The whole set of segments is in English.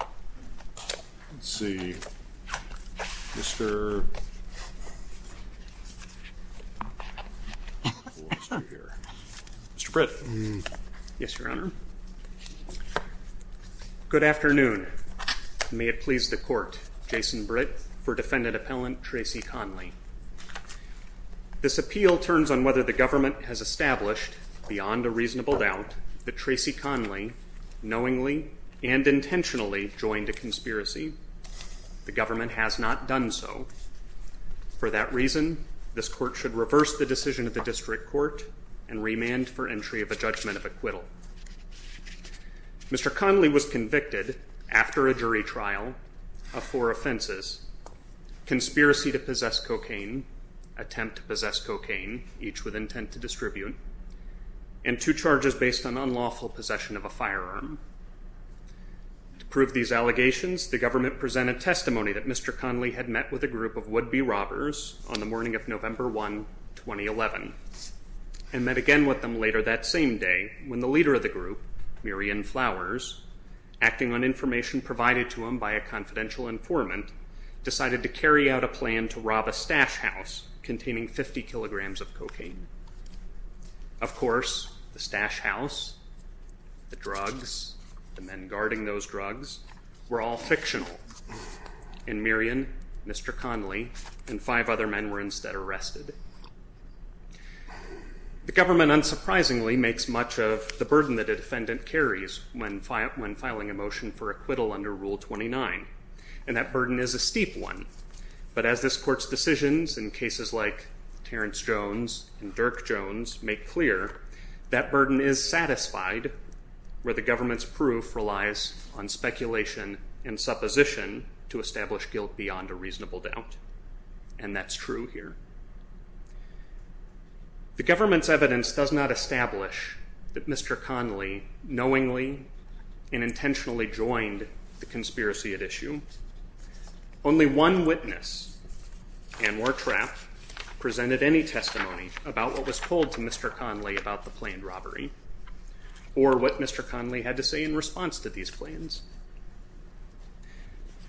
Let's see, Mr. Britt. Yes, Your Honor. Good afternoon. May it please the court, Jason Britt, for Defendant Appellant Tracy Conley. This appeal turns on whether the government has established beyond a reasonable doubt that Tracy Conley knowingly and intentionally joined a conspiracy. The government has not done so. For that reason, this court should reverse the decision of the district court and remand for entry of a judgment of acquittal. Mr. Conley was convicted after a jury trial of four offenses, conspiracy to possess cocaine, attempt to possess cocaine, each with intent to distribute, and two charges based on unlawful possession of a firearm. To prove these allegations, the government presented testimony that Mr. Conley had met with a group of would-be robbers on the morning of November 1, 2011, and met again with them later that same day when the leader of the group, Mirian Flowers, acting on information provided to him by a confidential informant, decided to carry out a plan to rob a stash house containing 50 kilograms of cocaine. Of course, the stash house, the drugs, the men guarding those drugs were all fictional, and Mirian, Mr. Conley, and five other men were instead arrested. The government unsurprisingly makes much of the burden that a defendant carries when filing a motion for acquittal under Rule 29, and that burden is a steep one, but as this court's decisions in cases like Terrence Jones and Dirk Jones make clear, that burden is satisfied where the government's proof relies on speculation and supposition to establish guilt beyond a reasonable doubt, and that's true here. The government's evidence does not establish that Mr. Conley knowingly and intentionally joined the conspiracy at issue. Only one witness, Anwar Trapp, presented any testimony about what was told to Mr. Conley about the planned robbery, or what Mr. Conley had to say in response to these plans.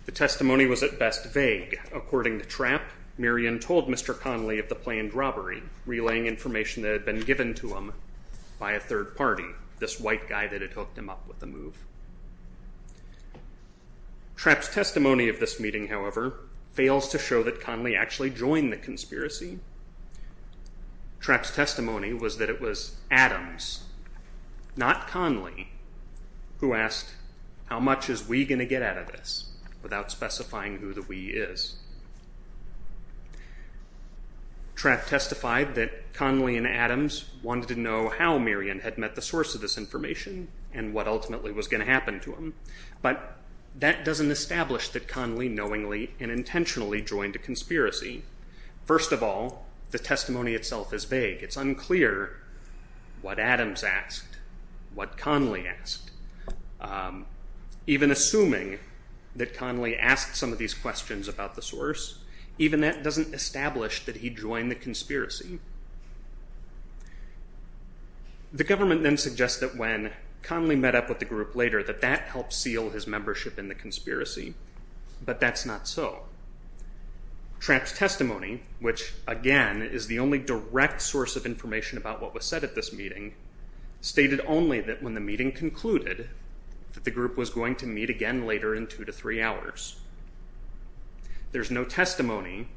The testimony was at best vague. According to Trapp, Mirian told Mr. Conley of the planned robbery, relaying information that had been given to him by a third party, this white guy that had hooked him up with the move. Trapp's testimony of this meeting, however, fails to show that Conley actually joined the conspiracy. Trapp's testimony was that it was Adams, not Conley, who asked, how much is we going to get out of this without specifying who the we is? Trapp testified that Conley and Adams wanted to know how Mirian had met the source of this information, and what ultimately was going to happen to him, but that doesn't establish that Conley knowingly and intentionally joined a conspiracy. First of all, the testimony itself is vague. It's unclear what Adams asked, what Conley asked. Even assuming that Conley asked some of these questions about the source, even that doesn't establish that he joined the conspiracy. The government then suggests that when Conley met up with the group later, that that helped seal his membership in the conspiracy, but that's not so. Trapp's testimony, which, again, is the only direct source of information about what was said at this meeting, stated only that when the meeting concluded that the group was going to meet again later in two to three hours. There's no testimony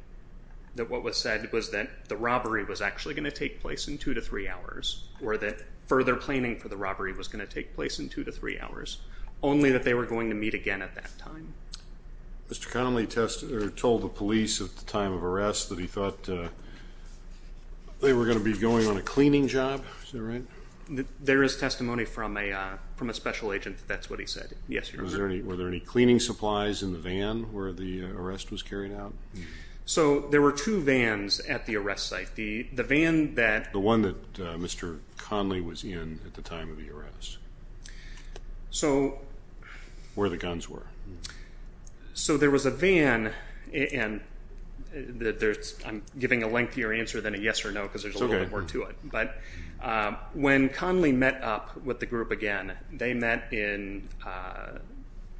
that what was said was that the robbery was actually going to take place in two to three hours, or that further planning for the robbery was going to take place in two to three hours, only that they were going to meet again at that time. Mr. Conley told the police at the time of arrest that he thought they were going to be going on a cleaning job, is that right? There is testimony from a special agent that that's what he said, yes, Your Honor. Were there any cleaning supplies in the van where the arrest was carried out? So there were two vans at the arrest site. The van that... The one that Mr. Conley was in at the time of the arrest. Where the guns were. So there was a van, and I'm giving a lengthier answer than a yes or no because there's a little bit more to it, but when Conley met up with the group again, they met in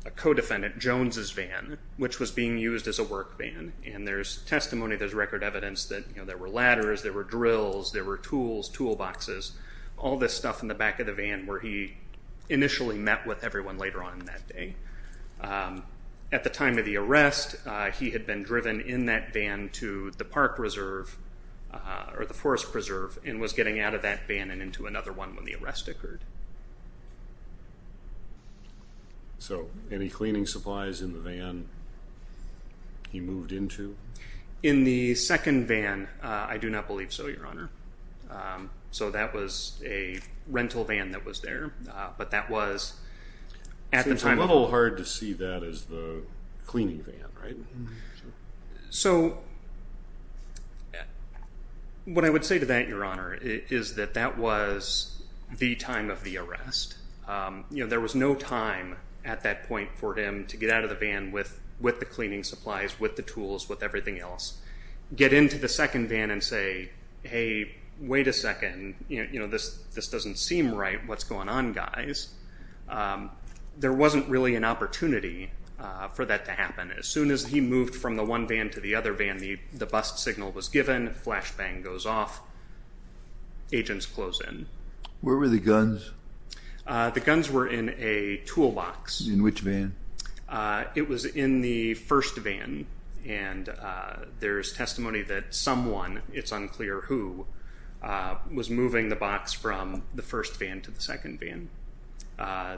a co-defendant Jones' van, which was being used as a work van, and there's testimony, there's record evidence that there were ladders, there were drills, there were tools, toolboxes, all this stuff in the back of the van where he initially met with everyone later on in that day. At the time of the arrest, he had been driven in that van to the park reserve, or the forest preserve, and was getting out of that van and into another one when the arrest occurred. So any cleaning supplies in the van he moved into? In the second van, I do not believe so, Your Honor. So that was a rental van that was there, but that was at the time... It's a little hard to see that as the cleaning van, right? So what I would say to that, Your Honor, is that that was the time of the arrest. There was no time at that point for him to get out of the van with the cleaning supplies, with the tools, with everything else, get into the second van and say, hey, wait a second, this doesn't seem right, what's going on, guys? There wasn't really an opportunity for that to happen. As soon as he got from one van to the other van, the bust signal was given, flashbang goes off, agents close in. Where were the guns? The guns were in a toolbox. In which van? It was in the first van, and there's testimony that someone, it's unclear who, was moving the box from the first van to the second van.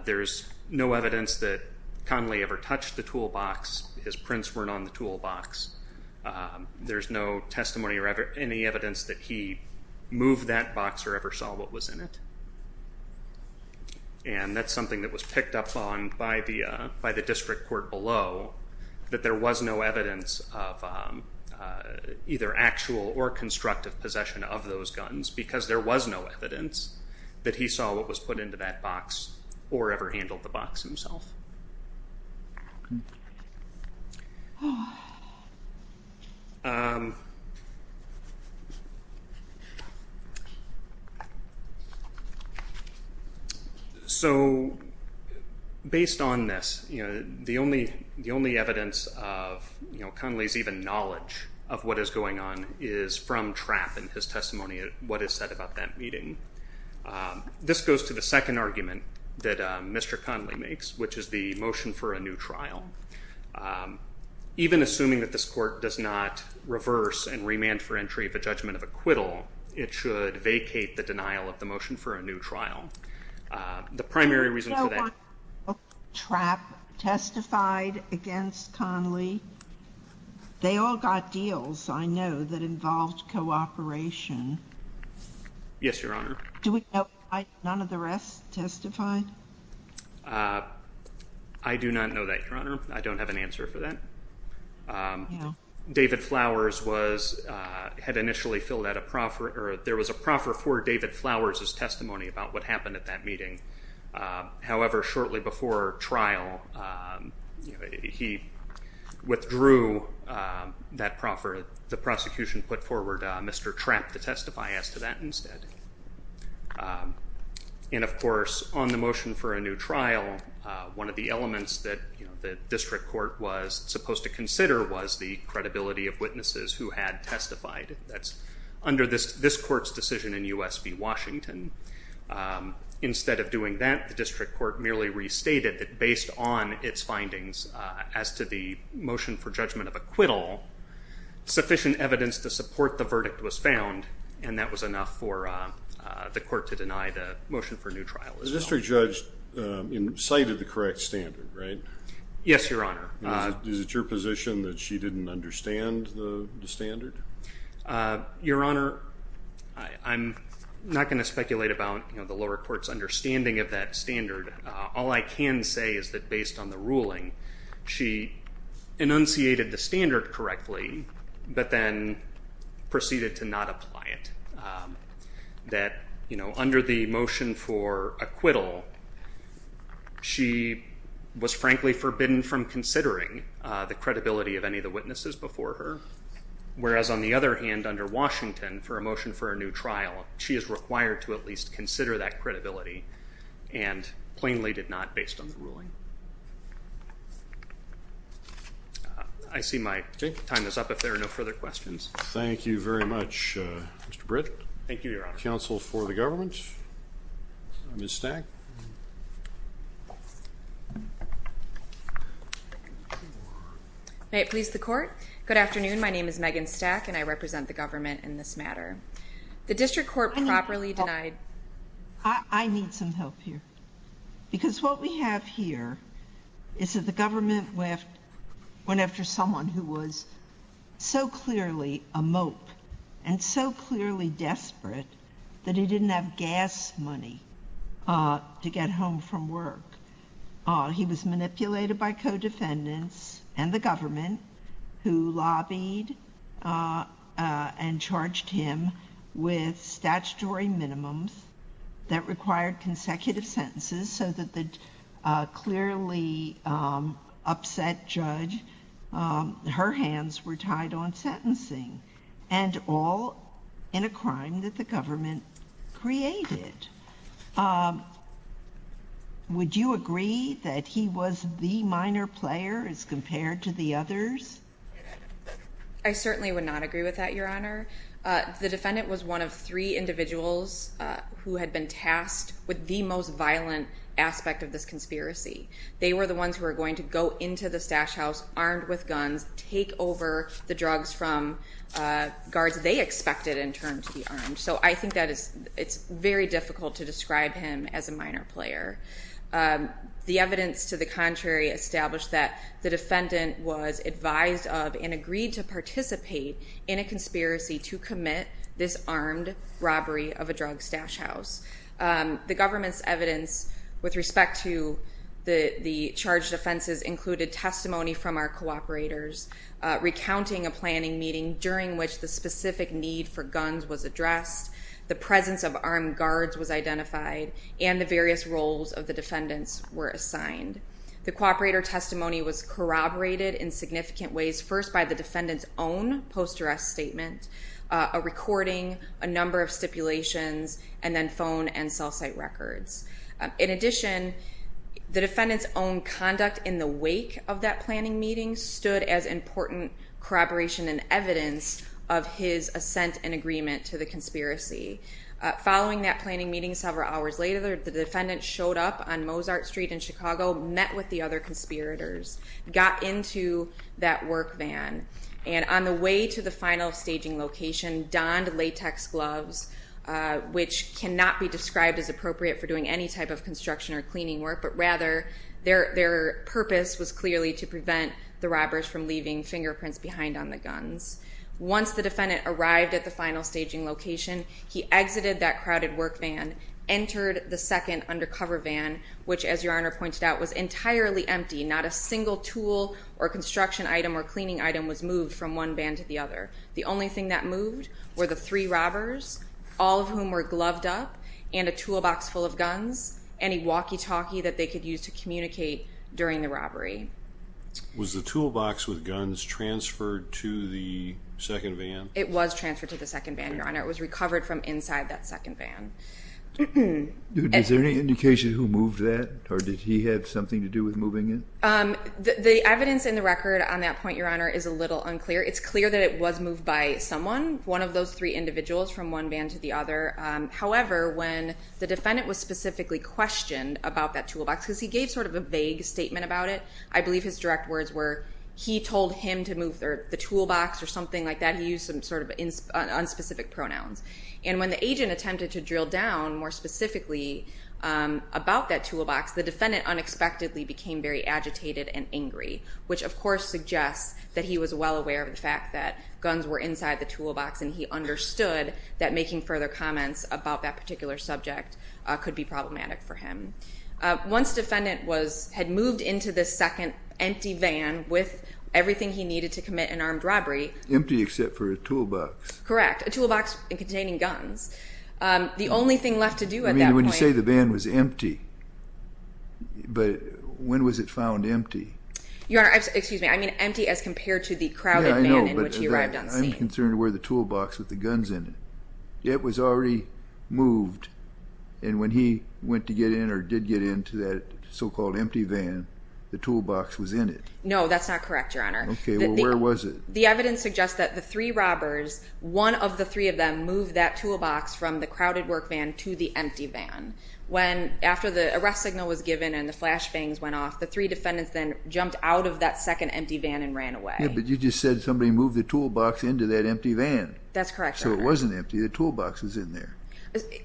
There's no evidence that Conley ever touched the toolbox, his prints weren't on the toolbox. There's no testimony or any evidence that he moved that box or ever saw what was in it. And that's something that was picked up on by the district court below, that there was no evidence of either actual or constructive possession of those guns, because there was no evidence that he saw what was put into that box or ever handled the box himself. So based on this, the only evidence of Conley's even knowledge of what is going on is from the second argument that Mr. Conley makes, which is the motion for a new trial. Even assuming that this court does not reverse and remand for entry of a judgment of acquittal, it should vacate the denial of the motion for a new trial. The primary reason for that- Do we know why Trapp testified against Conley? They all got deals, I know, that involved cooperation. Yes, Your Honor. Do we know why none of the rest testified? I do not know that, Your Honor. I don't have an answer for that. David Flowers had initially filled out a proffer, or there was a proffer for David Flowers' testimony about what happened at that meeting. However, shortly before trial, he withdrew that proffer. The prosecution put forward Mr. Trapp to testify as to that instead. And of course, on the motion for a new trial, one of the elements that the district court was supposed to consider was the credibility of witnesses who had testified. That's under this court's decision in U.S. v. Washington. Instead of doing that, the district court merely restated that based on its findings as to the motion for judgment of acquittal, sufficient evidence to support the verdict was found, and that was enough for the court to deny the motion for a new trial. The district judge cited the correct standard, right? Yes, Your Honor. Is it your position that she didn't understand the standard? Your Honor, I'm not going to speculate about the lower court's understanding of that standard. All I can say is that based on the ruling, she enunciated the standard correctly, but then proceeded to not apply it. That, you know, under the motion for acquittal, she was frankly forbidden from considering the credibility of any of the witnesses before her, whereas on the other hand, under Washington, for a motion for a new trial, she is required to at least consider that credibility and plainly did not based on the ruling. I see my time is up if there are no further questions. Thank you very much, Mr. Britt. Thank you, Your Honor. Counsel for the government, Ms. Stack. May it please the court? Good afternoon. My name is Megan Stack and I represent the government in this matter. The district court properly denied. I need some help here because what we have here is that the government went after someone who was so clearly a mope and so clearly desperate that he didn't have gas money to get home from work. He was manipulated by co-defendants and the government who lobbied and charged him with statutory minimums that required consecutive sentences so that the clearly upset judge, her hands were tied on sentencing and all in a crime that the government created. Would you agree that he was the minor player as compared to the others? I would not agree with that, Your Honor. The defendant was one of three individuals who had been tasked with the most violent aspect of this conspiracy. They were the ones who were going to go into the stash house armed with guns, take over the drugs from guards they expected in terms of the arms. So I think that it's very difficult to describe him as a minor player. The evidence to the contrary established that the defendant was advised of and agreed to participate in a conspiracy to commit this armed robbery of a drug stash house. The government's evidence with respect to the charged offenses included testimony from our cooperators recounting a planning meeting during which the specific need for guns was addressed, the presence of armed guards was identified, and the various roles of the defendants were assigned. The cooperator testimony was corroborated in significant ways first by the defendant's own post arrest statement, a recording, a number of stipulations, and then phone and cell site records. In addition, the defendant's own conduct in the wake of that planning meeting stood as important corroboration and evidence of his assent and agreement to the conspiracy. Following that planning meeting several hours later, the defendant showed up on Mozart Street in Chicago, met with the other conspirators, got into that work van, and on the way to the final staging location donned latex gloves, which cannot be described as appropriate for doing any type of construction or cleaning work, but rather their purpose was clearly to prevent the robbers from leaving fingerprints behind on the guns. Once the defendant arrived at the final staging location, he exited that crowded work van, entered the second undercover van, which, as Your Honor pointed out, was entirely empty. Not a single tool or construction item or cleaning item was moved from one van to the other. The only thing that moved were the three robbers, all of whom were gloved up and a toolbox full of guns, any walkie-talkie that they could use to communicate during the robbery. Was the toolbox with guns transferred to the second van? It was transferred to the second van, Your Honor. It was recovered from inside that second van. Is there any indication who moved that, or did he have something to do with moving it? The evidence in the record on that point, Your Honor, is a little unclear. It's clear that it was moved by someone, one of those three individuals from one van to the other. However, when the defendant was specifically questioned about that toolbox, because he gave sort of a vague statement about it, I believe his direct words were, he told him to move the toolbox or something like that. He used some sort of unspecific pronouns. And when the agent attempted to drill down more specifically about that toolbox, the defendant unexpectedly became very agitated and angry, which of course suggests that he was well aware of the fact that guns were inside the toolbox, and he understood that making further comments about that particular subject could be problematic for him. Once defendant had moved into this second empty van with everything he needed to commit an armed robbery— Empty except for a toolbox. Correct. A toolbox containing guns. The only thing left to do at that point— I mean, when you say the van was empty, but when was it found empty? Your Honor, excuse me, I mean empty as compared to the crowded van in which he arrived on scene. Yeah, I know, but I'm concerned where the toolbox with the guns in it. It was already moved, and when he went to get in or did get into that so-called empty van, the toolbox was in it. No, that's not correct, Your Honor. Okay, well, where was it? The evidence suggests that the three robbers, one of the three of them, moved that toolbox from the crowded work van to the empty van. When, after the arrest signal was given and the flash bangs went off, the three defendants then jumped out of that second empty van and ran away. Yeah, but you just said somebody moved the toolbox into that empty van. That's correct, Your Honor. So it wasn't empty, the toolbox was in there.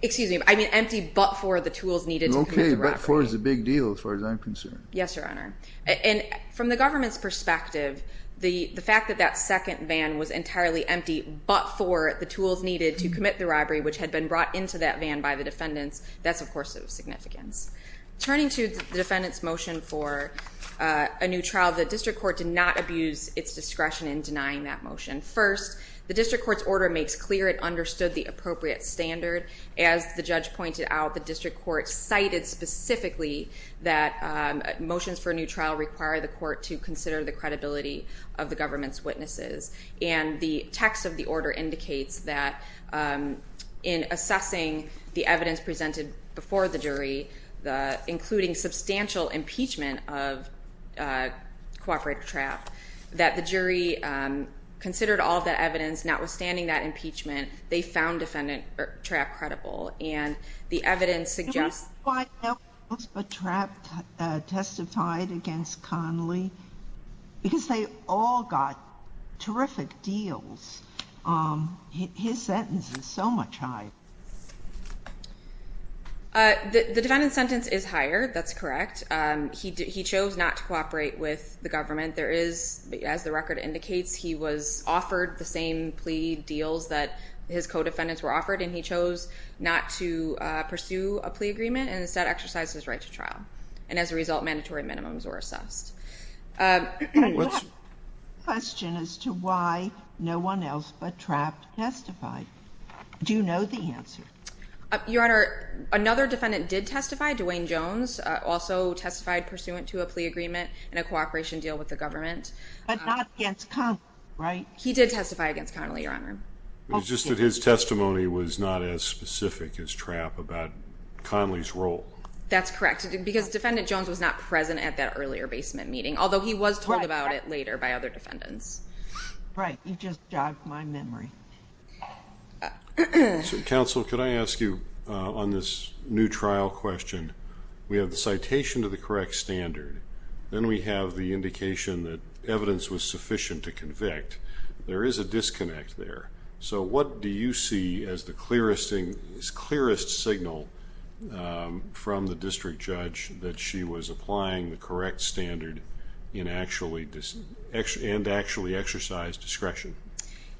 Excuse me, I mean empty but for the tools needed to commit the robbery. Okay, but for is a big deal as far as I'm concerned. Yes, Your Honor. And from the government's perspective, the fact that that second van was entirely empty but for the tools needed to commit the robbery, which had been brought into that van by the defendants, that's of course of significance. Turning to the defendant's motion for a new trial, the district court did not abuse its discretion in denying that motion. First, the district court's order makes clear it understood the appropriate standard. As the judge pointed out, the district court cited specifically that motions for a new trial require the court to consider the credibility of the government's witnesses. And the text of the order indicates that in assessing the evidence presented before the jury, including substantial impeachment of Cooperative Trap, that the jury considered all of that evidence, notwithstanding that impeachment, they found Defendant Trap credible. And the evidence suggests... Why wasn't Trap testified against Connolly? Because they all got terrific deals. His sentence is so much higher. The defendant's sentence is higher, that's correct. He chose not to cooperate with the government. As the record indicates, he was offered the same plea deals that his co-defendants were offered, and he chose not to pursue a plea agreement, and instead exercised his right to trial. And as a result, mandatory minimums were assessed. I have a question as to why no one else but Trap testified. Do you know the answer? Your Honor, another defendant did testify, Dwayne Jones, also testified pursuant to a But not against Connolly, right? He did testify against Connolly, Your Honor. It's just that his testimony was not as specific as Trap about Connolly's role. That's correct. Because Defendant Jones was not present at that earlier basement meeting, although he was told about it later by other defendants. Right. You just jogged my memory. Counsel, could I ask you, on this new trial question, we have the citation to the correct standard. Then we have the indication that evidence was sufficient to convict. There is a disconnect there. What do you see as the clearest signal from the district judge that she was applying the correct standard and actually exercised discretion?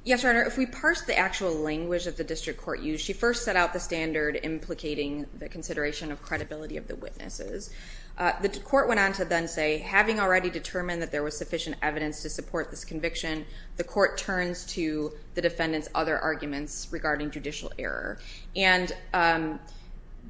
Yes, Your Honor. If we parse the actual language that the district court used, she first set out the standard implicating the consideration of credibility of the witnesses. The court went on to then say, having already determined that there was sufficient evidence to support this conviction, the court turns to the defendant's other arguments regarding judicial error. And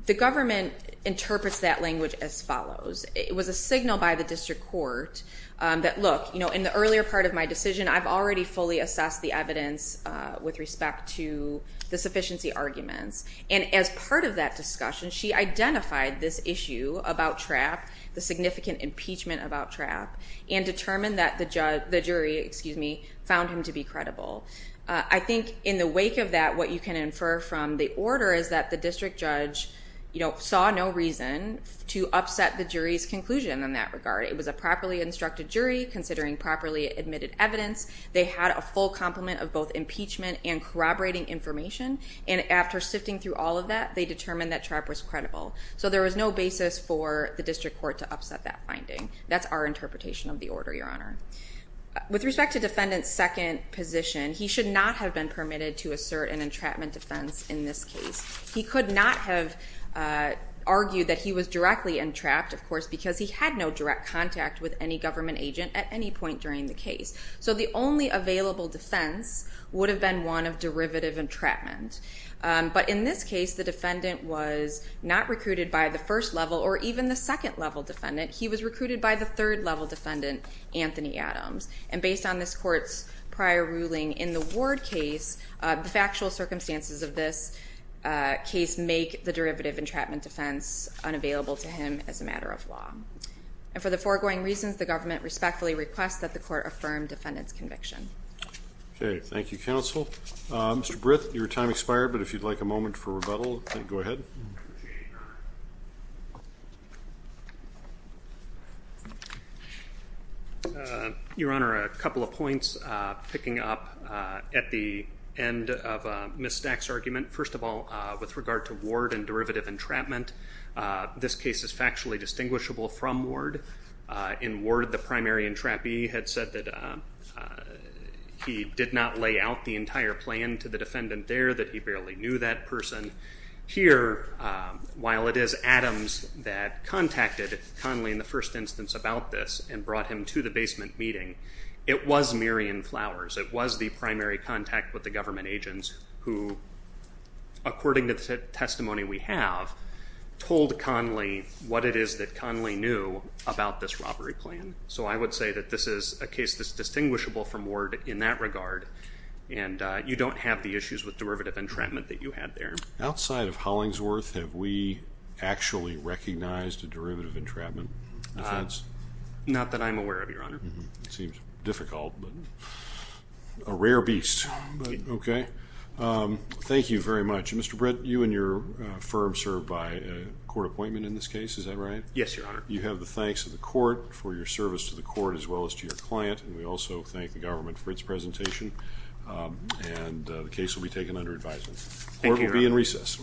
the government interprets that language as follows. It was a signal by the district court that, look, in the earlier part of my decision, I've already fully assessed the evidence with respect to the sufficiency arguments. And as part of that discussion, she identified this issue about trap, the significant impeachment about trap, and determined that the jury found him to be credible. I think in the wake of that, what you can infer from the order is that the district judge saw no reason to upset the jury's conclusion in that regard. It was a properly instructed jury considering properly admitted evidence. They had a full complement of both impeachment and corroborating information. And after sifting through all of that, they determined that trap was credible. So there was no basis for the district court to upset that finding. That's our interpretation of the order, Your Honor. With respect to defendant's second position, he should not have been permitted to assert an entrapment defense in this case. He could not have argued that he was directly entrapped, of course, because he had no direct contact with any government agent at any point during the case. So the only available defense would have been one of derivative entrapment. But in this case, the defendant was not recruited by the first level or even the second level defendant. He was recruited by the third level defendant, Anthony Adams. And based on this court's prior ruling in the Ward case, the factual circumstances of this case make the derivative entrapment defense unavailable to him as a matter of law. And for the foregoing reasons, the government respectfully requests that the court affirm defendant's conviction. Okay. Thank you, counsel. Mr. Britt, your time expired, but if you'd like a moment for rebuttal, go ahead. Your Honor, a couple of points picking up at the end of Ms. Stack's argument. First of all, with regard to Ward and derivative entrapment, this case is factually distinguishable from Ward. In Ward, the primary entrapee had said that he did not lay out the entire plan to the defendant there, that he barely knew that person. Here, while it is Adams that contacted Conley in the first instance about this and brought him to the basement meeting, it was Miriam Flowers. It was the primary contact with the government agents who, according to the testimony we have, told Conley what it is that Conley knew about this robbery plan. So, I would say that this is a case that's distinguishable from Ward in that regard, and you don't have the issues with derivative entrapment that you had there. Outside of Hollingsworth, have we actually recognized a derivative entrapment defense? Not that I'm aware of, Your Honor. It seems difficult, but a rare beast. Okay. Thank you very much. Mr. Britt, you and your firm serve by court appointment in this case, is that right? Yes, Your Honor. You have the thanks of the court for your service to the court as well as to your client, and we also thank the government for its presentation, and the case will be taken under advisement. Thank you, Your Honor. Court will be in recess.